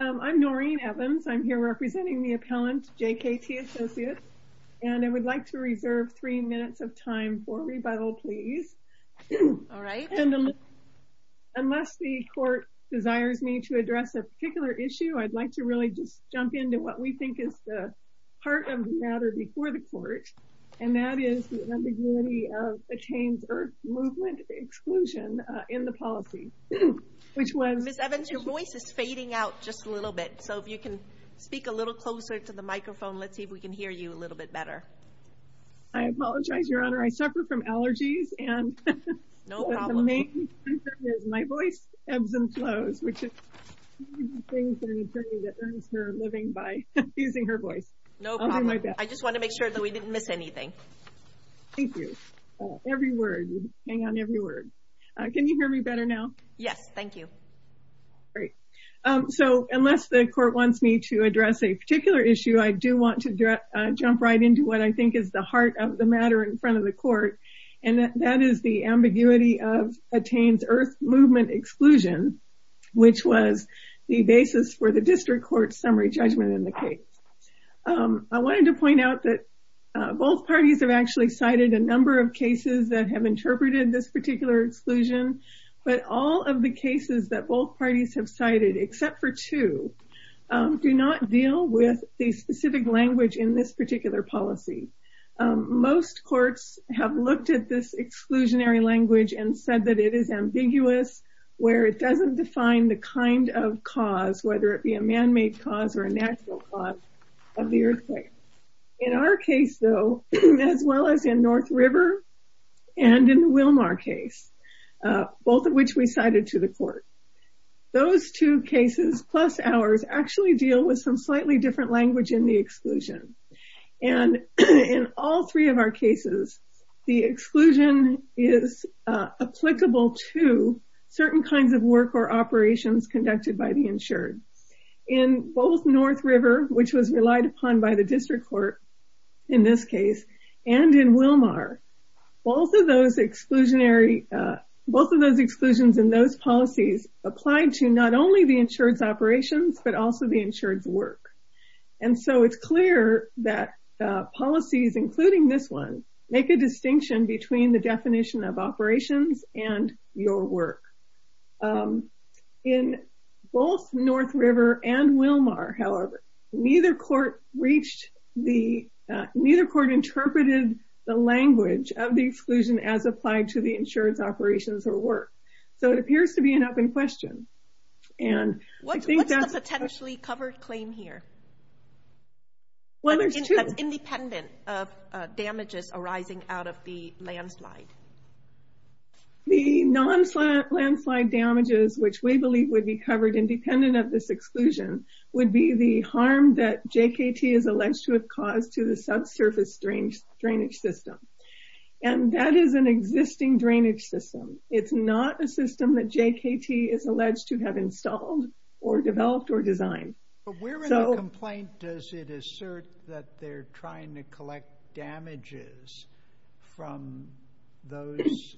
I'm Noreen Evans. I'm here representing the appellant JKT Associates. And I would like to reserve three minutes of time for rebuttal, please. All right. And unless the court desires me to address a particular issue, I'd like to really just jump into what we think is the heart of the matter before the court. And that is the ambiguity of Attains Earth Movement Exclusion in the policy, which was... Ms. Evans, your voice is fading out just a little bit. So if you can speak a little closer to the microphone, let's see if we can hear you a little bit better. I apologize, Your Honor. I suffer from allergies and... No problem. ...the main concern is my voice ebbs and flows, which is the main thing for an attorney that earns her living by using her voice. No problem. I'll do my best. I just want to make sure that we didn't miss anything. Thank you. Every word, you hang on every word. Can you hear me better now? Yes. Thank you. Great. So unless the court wants me to address a particular issue, I do want to jump right into what I think is the heart of the matter in front of the court. And that is the ambiguity of Attains Earth Movement Exclusion, which was the basis for district court summary judgment in the case. I wanted to point out that both parties have actually cited a number of cases that have interpreted this particular exclusion, but all of the cases that both parties have cited, except for two, do not deal with the specific language in this particular policy. Most courts have looked at this exclusionary language and said that it is ambiguous, where it doesn't define the kind of cause, whether it be a man-made cause or a natural cause of the earthquake. In our case, though, as well as in North River and in the Wilmar case, both of which we cited to the court, those two cases plus ours actually deal with some slightly different language in the exclusion. And in all three of our cases, the exclusion is applicable to certain kinds of work or operations conducted by the insured. In both North River, which was relied upon by the district court in this case, and in Wilmar, both of those exclusions and those policies applied to not only the insured's operations, but also the insured's work. And so it's clear that policies, including this one, make a distinction between the definition of operations and your work. In both North River and Wilmar, however, neither court reached the, neither court interpreted the language of the exclusion as applied to the insured's operations or work. So it appears to be an open question. And I think that's- What's the potentially covered claim here? Well, there's two. That's independent of damages arising out of the landslide. The non-landslide damages, which we believe would be covered independent of this exclusion, would be the harm that JKT is alleged to have caused to the subsurface drainage system. And that is an existing drainage system. It's not a system that JKT is alleged to have installed or developed or designed. But where in the complaint does it assert that they're trying to collect damages from those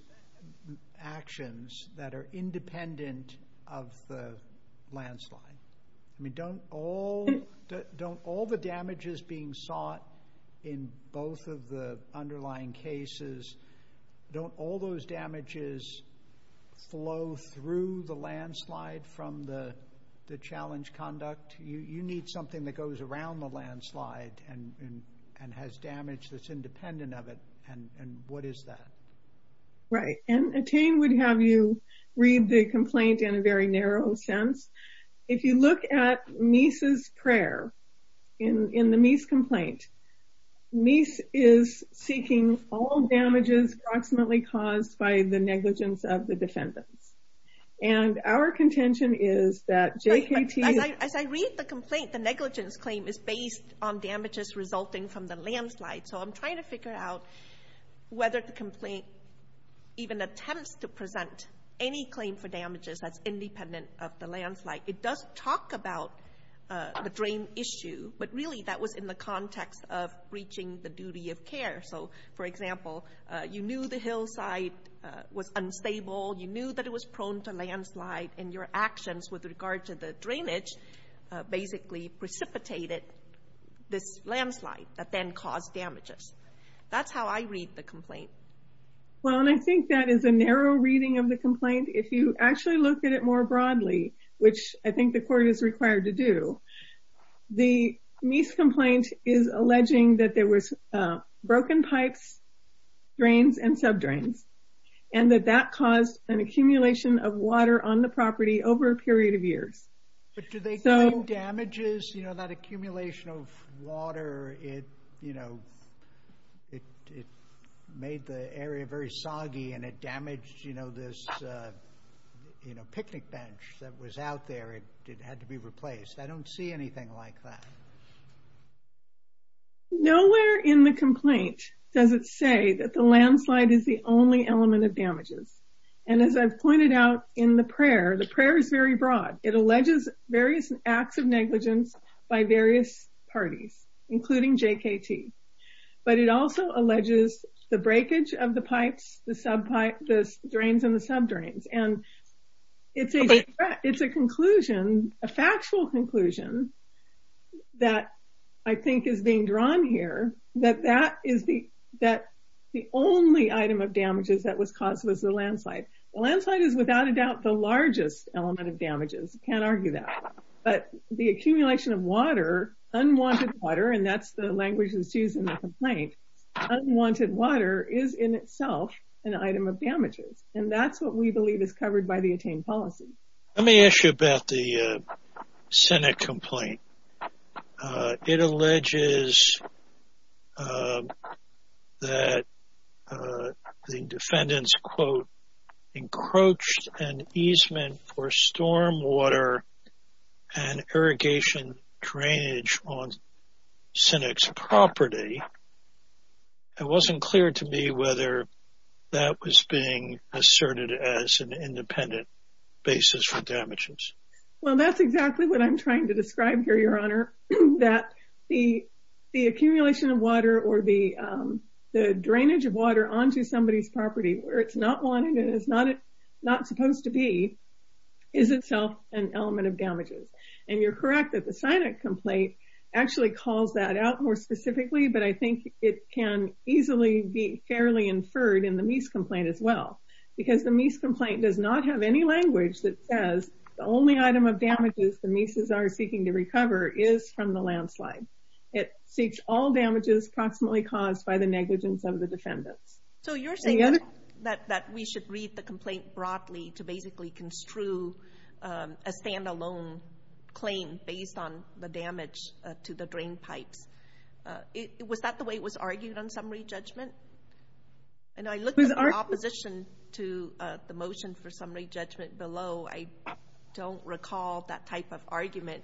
actions that are independent of the landslide? I mean, don't all the damages being sought in both of the underlying cases, don't all those damages flow through the landslide from the challenge conduct? You need something that goes around the landslide and has damage that's independent of it. And what is that? Right. And Attain would have you read the complaint in a very narrow sense. If you look at Meese's prayer in the Meese complaint, Meese is seeking all damages approximately caused by the negligence of the defendants. And our contention is that JKT... As I read the complaint, the negligence claim is based on damages resulting from the landslide. So I'm trying to figure out whether the complaint even attempts to present any claim for damages that's independent of the landslide. It does talk about the drain issue, but really that was in the hillside was unstable. You knew that it was prone to landslide and your actions with regard to the drainage basically precipitated this landslide that then caused damages. That's how I read the complaint. Well, and I think that is a narrow reading of the complaint. If you actually look at it more broadly, which I think the court is required to do, the Meese complaint is alleging that there was broken pipes, drains, and sub-drains, and that that caused an accumulation of water on the property over a period of years. But do they claim damages? That accumulation of water, it made the area very soggy and it damaged this picnic bench that was out there. It had to be replaced. I don't see anything like that. Nowhere in the complaint does it say that the landslide is the only element of damages. And as I've pointed out in the prayer, the prayer is very broad. It alleges various acts of negligence by various parties, including JKT. But it also alleges the breakage of the pipes, the drains, and the sub-drains. And it's a conclusion, a factual conclusion, that I think is being drawn here, that the only item of damages that was caused was the landslide. The landslide is without a doubt the largest element of damages. Can't argue that. But the accumulation of water, unwanted water, and that's the language that's used in the an item of damages. And that's what we believe is covered by the attained policy. Let me ask you about the Senate complaint. It alleges that the defendants, quote, encroached an easement for storm water and irrigation drainage on property. It wasn't clear to me whether that was being asserted as an independent basis for damages. Well, that's exactly what I'm trying to describe here, your honor, that the accumulation of water or the drainage of water onto somebody's property where it's not wanted and it's not supposed to be is itself an element of damages. And you're correct that the Senate complaint actually calls that out more specifically. But I think it can easily be fairly inferred in the Meese complaint as well, because the Meese complaint does not have any language that says the only item of damages the Meeses are seeking to recover is from the landslide. It seeks all damages approximately caused by the negligence of the defendants. So you're saying that we should read the complaint broadly to basically construe a standalone claim based on the damage to the drain pipes. Was that the way it was argued on summary judgment? And I looked at the opposition to the motion for summary judgment below. I don't recall that type of argument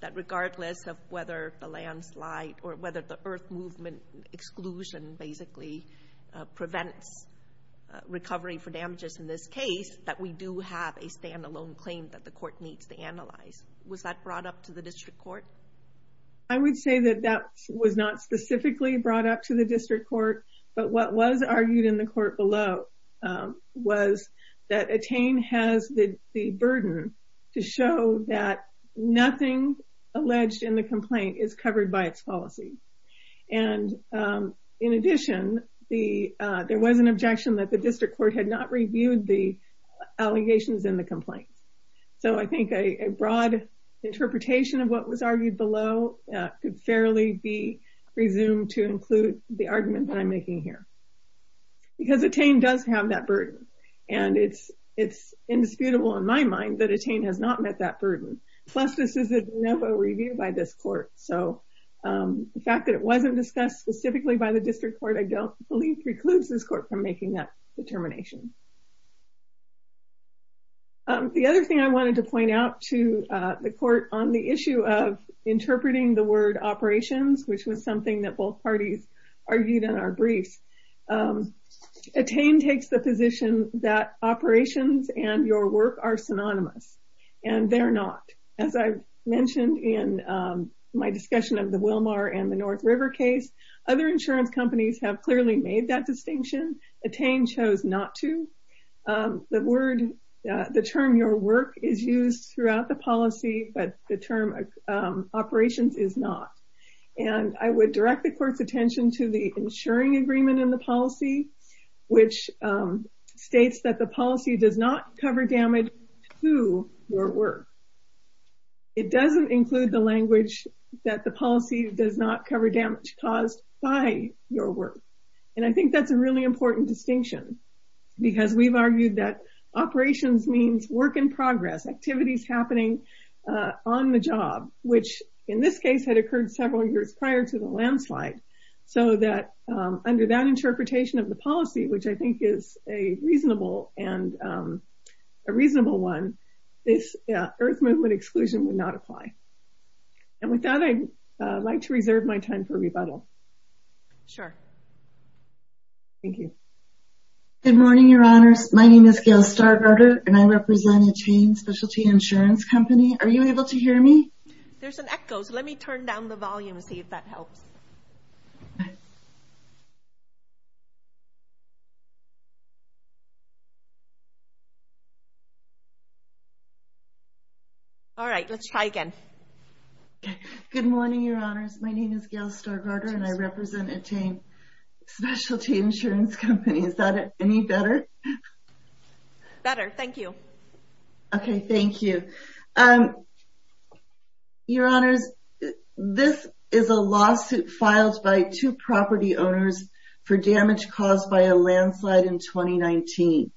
that regardless of whether the landslide or whether the earth movement exclusion basically prevents recovery for damages in this case, that we do have a claim that the court needs to analyze. Was that brought up to the district court? I would say that that was not specifically brought up to the district court. But what was argued in the court below was that Attain has the burden to show that nothing alleged in the complaint is covered by its policy. And in addition, there was an objection that the district court had not So I think a broad interpretation of what was argued below could fairly be presumed to include the argument that I'm making here. Because Attain does have that burden. And it's indisputable in my mind that Attain has not met that burden. Plus, this is a de novo review by this court. So the fact that it wasn't discussed specifically by the district court, I don't believe precludes this court from making that determination. The other thing I wanted to point out to the court on the issue of interpreting the word operations, which was something that both parties argued in our briefs, Attain takes the position that operations and your work are synonymous. And they're not. As I mentioned in my discussion of the Wilmar and the North River case, other insurance companies have made that distinction. Attain chose not to. The term your work is used throughout the policy, but the term operations is not. And I would direct the court's attention to the insuring agreement in the policy, which states that the policy does not cover damage to your work. It doesn't include the language that the policy does not cover damage caused by your work. And I think that's a really important distinction, because we've argued that operations means work in progress, activities happening on the job, which in this case had occurred several years prior to the landslide. So that under that interpretation of the policy, which I think is a reasonable one, this Earth Movement exclusion would not apply. And with that, I'd like to reserve my time for rebuttal. Sure. Thank you. Good morning, Your Honors. My name is Gail Stargardner, and I represent Attain Specialty Insurance Company. Are you able to hear me? There's an echo, so let me turn down the volume and see if that helps. All right, let's try again. Good morning, Your Honors. My name is Gail Stargardner, and I represent Attain Specialty Insurance Company. Is that any better? Better. Thank you. Okay. Thank you. Your Honors, this is a lawsuit filed by two property owners for damage caused by a landslide in 2019.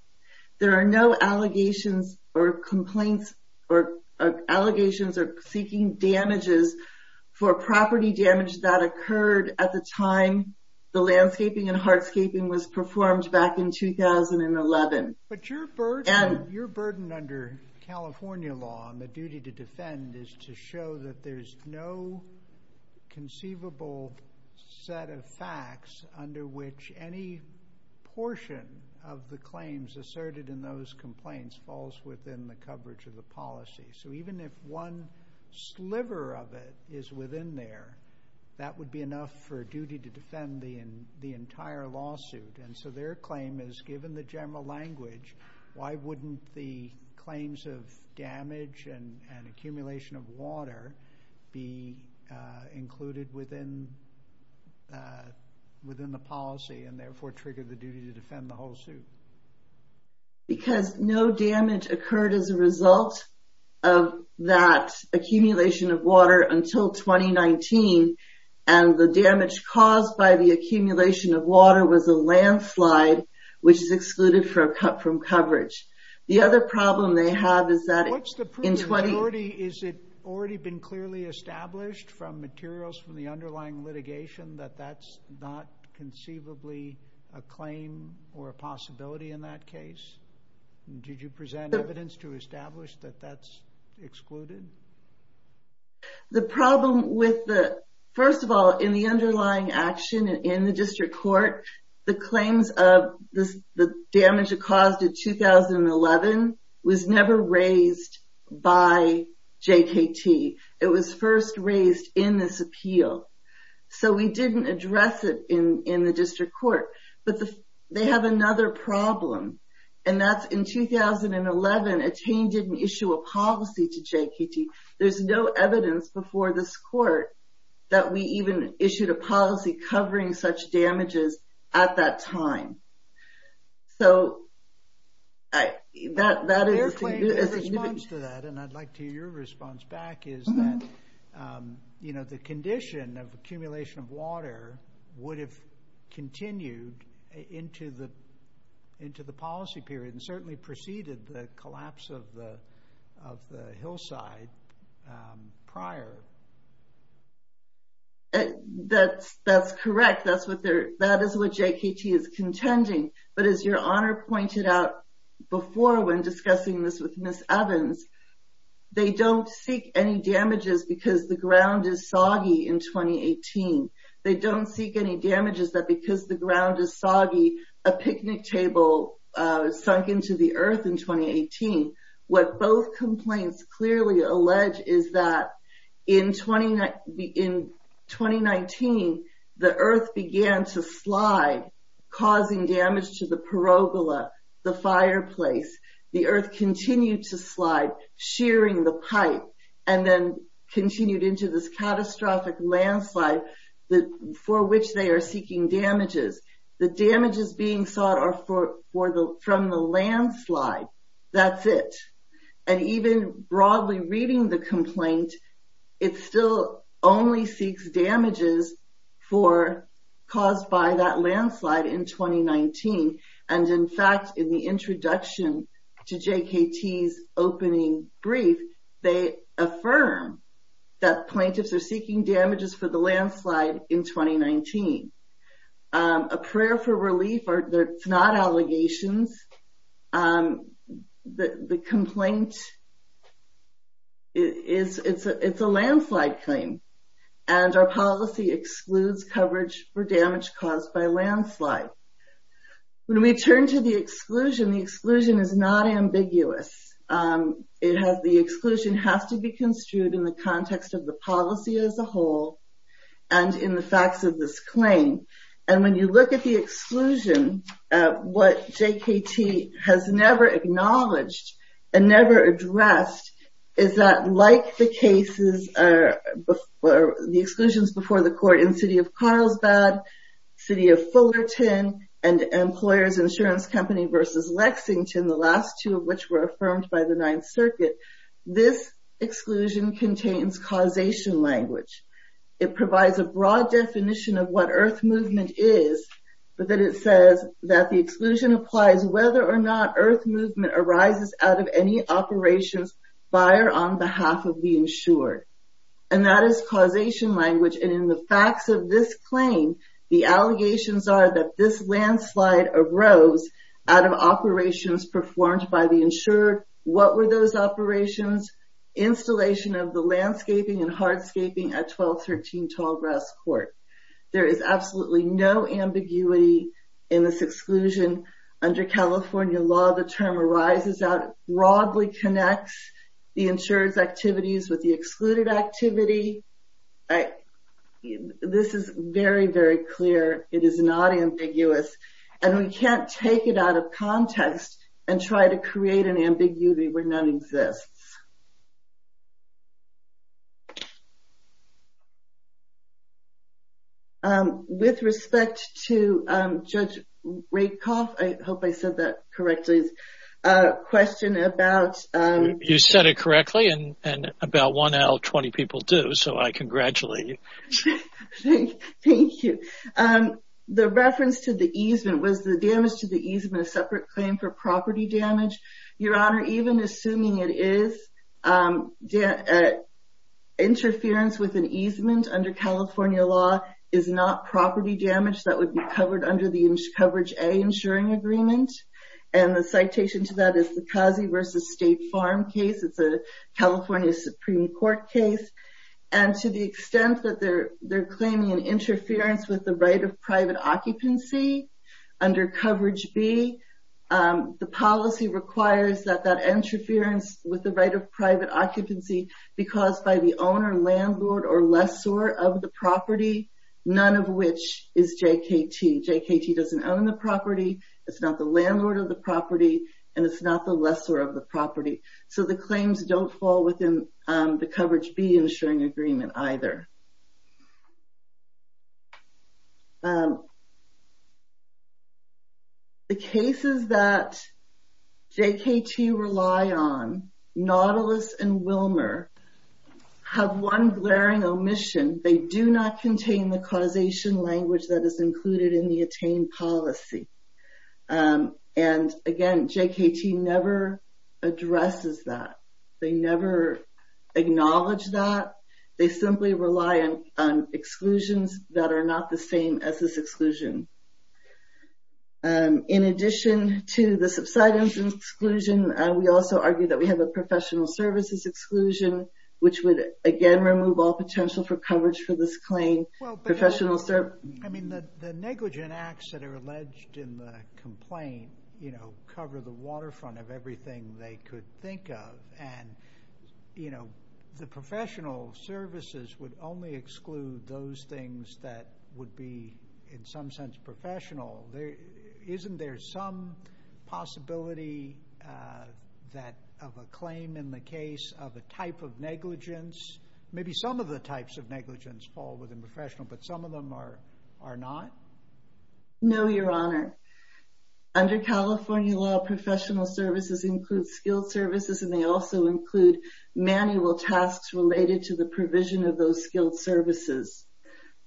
There are no allegations or complaints or allegations of seeking damages for property damage that occurred at the time the landscaping and hardscaping was performed back in 2011. But your burden under California law and the duty to defend is to show that there's no conceivable set of facts under which any portion of the claims asserted in those complaints falls within the coverage of the policy. So even if one sliver of it is within there, that would be enough for a duty to defend the entire lawsuit. And so their claim is, given the general language, why wouldn't the claims of damage and accumulation of water be included within the policy and therefore trigger the duty to defend the whole suit? Because no damage occurred as a result of that accumulation of water until 2019, and the damage caused by the accumulation of water was a landslide, which is excluded from coverage. The other problem they have is that in 20... What's the proof? Has it already been clearly established from materials from the underlying litigation that that's not conceivably a claim or a possibility in that case? Did you present evidence to establish that that's excluded? The problem with the... First of all, in the underlying action in the district court, the claims of the damage it caused in 2011 was never raised by JKT. It was first raised in this court. But they have another problem, and that's in 2011, Attain didn't issue a policy to JKT. There's no evidence before this court that we even issued a policy covering such damages at that time. So that is... Their claim, their response to that, and I'd like to hear your response back, is that the condition of accumulation of water would have continued into the policy period and certainly preceded the collapse of the hillside prior. That's correct. That is what JKT is contending. But as your Honor pointed out before when discussing this with Ms. Evans, they don't seek any damages because the ground is soggy in 2018. They don't seek any damages that because the ground is soggy, a picnic table sunk into the earth in 2018. What both complaints clearly allege is that in 2019, the earth began to slide, causing damage to the perogola, the fireplace. The earth continued to slide, shearing the pipe, and then continued into this catastrophic landslide for which they are seeking damages. The damages being sought are from the landslide. That's it. And even broadly reading the complaint, it still only seeks damages caused by that landslide in 2019. And in fact, in the introduction to JKT's opening brief, they affirm that plaintiffs are seeking damages for the landslide in 2019. A prayer for relief, it's not allegations. The complaint, it's a landslide claim, and our policy excludes coverage for damage caused by a landslide. When we turn to the exclusion, the exclusion is not ambiguous. The exclusion has to be construed in the context of the policy as a whole, and in the facts of this claim. And when you look at the exclusion, what JKT has never acknowledged and never addressed is that like the cases, or the exclusions before the court in City of Carlsbad, City of Fullerton, and Employers Insurance Company versus Lexington, the last two of which were affirmed by the Ninth Circuit, this exclusion contains causation language. It provides a broad definition of what earth movement is, but then it says that the exclusion applies whether or not earth movement arises out of any operations by or on behalf of the insured. And that is causation language, and in the facts of this claim, the allegations are that this landslide arose out of operations performed by the insured. What were those operations? Installation of the landscaping and hardscaping at 1213 Tallgrass Court. There is absolutely no ambiguity in this exclusion. Under California law, the term arises out, broadly connects the insured's activities with the excluded activity. This is very, very clear. It is not ambiguous, and we can't take it out of context and try to create an ambiguity where it exists. With respect to Judge Rakoff, I hope I said that correctly, a question about... You said it correctly, and about 1 out of 20 people do, so I congratulate you. Thank you. The reference to the easement, was the damage to the easement a separate claim for is, interference with an easement under California law is not property damage that would be covered under the coverage A insuring agreement, and the citation to that is the Kazi versus State Farm case. It's a California Supreme Court case, and to the extent that they're claiming an interference with the right of private occupancy under coverage B, the policy requires that that interference with the right of private occupancy be caused by the owner, landlord, or lessor of the property, none of which is JKT. JKT doesn't own the property, it's not the landlord of the property, and it's not the lessor of the property, so the claims don't fall within the coverage B insuring agreement either. The cases that JKT rely on, Nautilus and Wilmer, have one glaring omission, they do not contain the causation language that is included in the attained policy, and again, JKT never addresses that, they never acknowledge that, they simply rely on exclusions that are not the same as this exclusion. In addition to the subsidence exclusion, we also argue that we have a professional services exclusion, which would again remove all potential for coverage for this claim. I mean, the negligent acts that are alleged in the complaint, you know, cover the waterfront of everything they could think of, and, you know, the professional services would only exclude those things that would be in some sense professional. Isn't there some possibility of a claim in the case of a type of negligence, maybe some of the types of negligence fall within professional, but some of them are not? No, your honor. Under California law, professional services include skilled services, and they also include manual tasks related to the provision of those skilled services.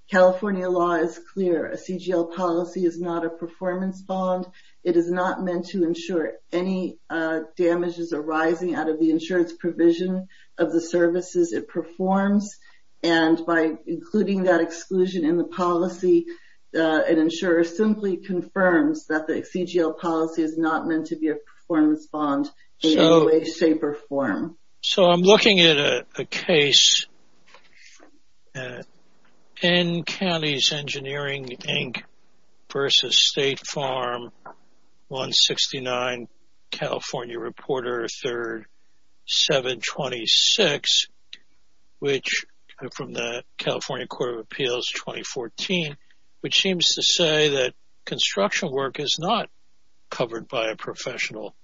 California law is clear, a CGL policy is not a performance bond. It is not meant to ensure any damages arising out of the insurance provision of the services it performs, and by including that exclusion in the policy, an insurer simply confirms that the CGL policy is not meant to be a performance bond in any way, shape, or form. So, I'm looking at a case, N Counties Engineering Inc. versus State Farm 169, California Reporter 3rd 726, which, from the California Court of Appeals 2014, which seems to say that construction work is not covered by a professional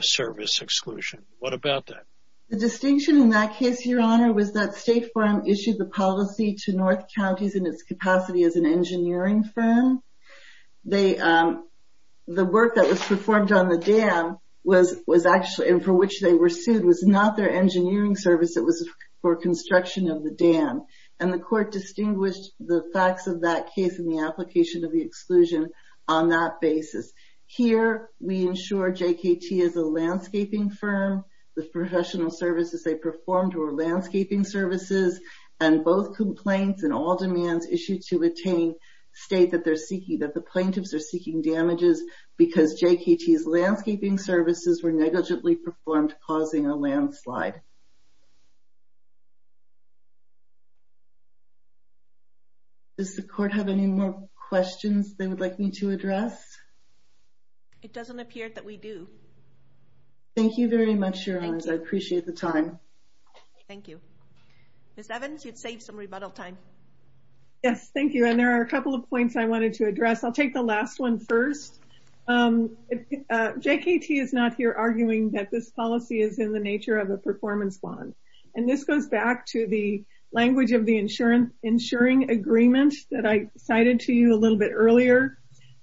service exclusion. What about that? The distinction in that case, your honor, was that State Farm issued the policy to North Counties in its capacity as an engineering firm. The work that was performed on the dam, and for which they were sued, was not their engineering service. It was for construction of the dam, and the court distinguished the facts of that case in the application of the exclusion on that basis. Here, we ensure JKT is a landscaping firm. The professional services they performed were landscaping services, and both complaints and all demands issued to attain state that the plaintiffs are seeking damages because JKT's landscaping services were negligently performed, causing a landslide. Does the court have any more questions they would like me to address? It doesn't appear that we do. Thank you very much, your honors. I appreciate the time. Thank you. Ms. Evans, you'd save some rebuttal time. Yes, thank you, and there are a couple of points I wanted to address. I'll take the last one first. JKT is not here arguing that this policy is in the nature of a performance bond, and this goes back to the language of the insuring agreement that I cited to you a little bit earlier.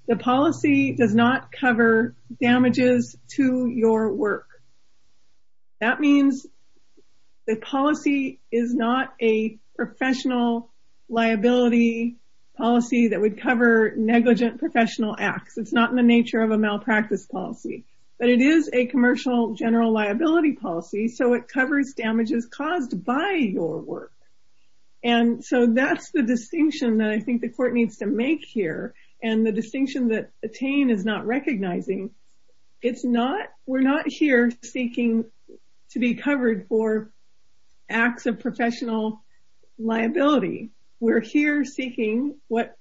The policy does not cover damages to your work. That means the policy is not a professional liability policy that would cover negligent professional acts. It's not in the nature of a malpractice policy, but it is a commercial general liability policy, so it covers damages caused by your work. That's the distinction that I think the court needs to make here, and the distinction that attain is not recognizing. We're not here seeking to be covered for acts of professional liability. We're here seeking what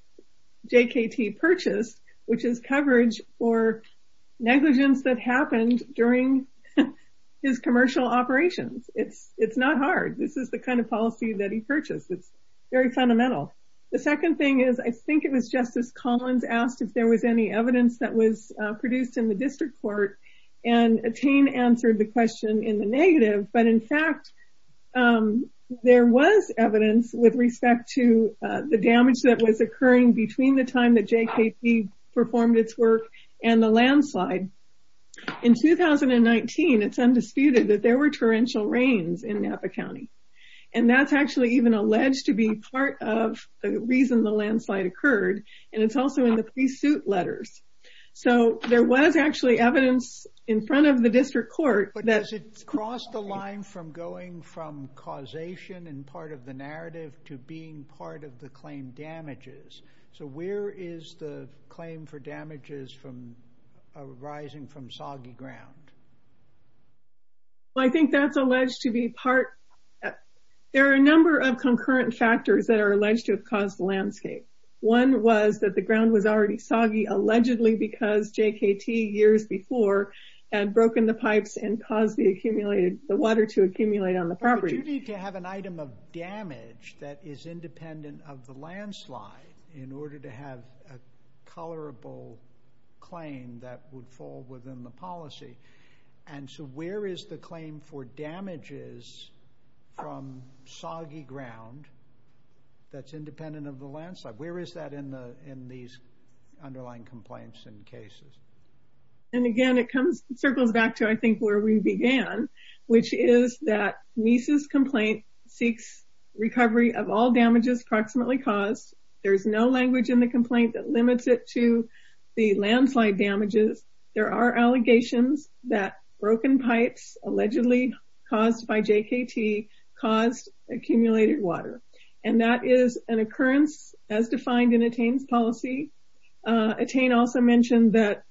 JKT purchased, which is coverage for negligence that happened during his commercial operations. It's not hard. This is the kind of policy that he purchased. It's very fundamental. The second thing is, I think it was Justice Collins asked if there was any evidence that was produced in the district court, and attain answered the question in the negative, but in fact, there was evidence with respect to the damage that was occurring between the time that JKT performed its work and the landslide. In 2019, it's undisputed that there were torrential rains in Napa County, and that's actually even alleged to be part of the reason the landslide occurred, and it's also in the pre-suit letters, so there was actually evidence in front of the district court. But does it cross the line from going from causation and part of the narrative to being part of the claim damages? So where is the claim for damages from arising from soggy ground? Well, I think that's alleged to be part. There are a number of concurrent factors that are alleged to have caused the landscape. One was that the ground was already soggy, allegedly because JKT, years before, had broken the pipes and caused the accumulated, the water to accumulate on the property. But you need to have an item of damage that is independent of the landslide in order to have a colorable claim that would fall within the policy, and so where is the claim for damages from soggy ground that's independent of the landslide? Where is that in these underlying complaints and cases? And again, it comes, circles back to, I think, where we began, which is that Meese's complaint seeks recovery of all damages approximately caused. There's no language in the complaint that limits it to the landslide damages. There are allegations that broken pipes allegedly caused by JKT caused accumulated water, and that is an occurrence as defined in Attain's policy. Attain also mentioned that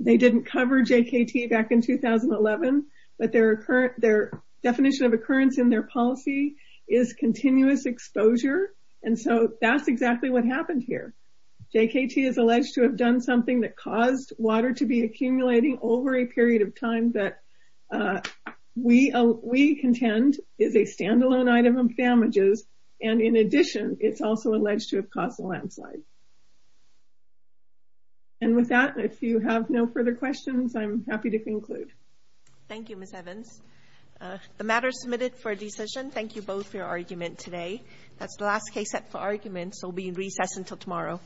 they didn't cover JKT back in 2011, but their definition of occurrence in their policy is continuous exposure, and so that's exactly what happened here. JKT is alleged to have done something that caused water to be accumulating over a period of time that we contend is a standalone item of damages, and in addition, it's also alleged to have caused a landslide. And with that, if you have no further questions, I'm happy to conclude. Thank you, Ms. Evans. The matter is submitted for a decision. Thank you both for your argument today. That's the last case set for argument, so we'll be in recess until tomorrow.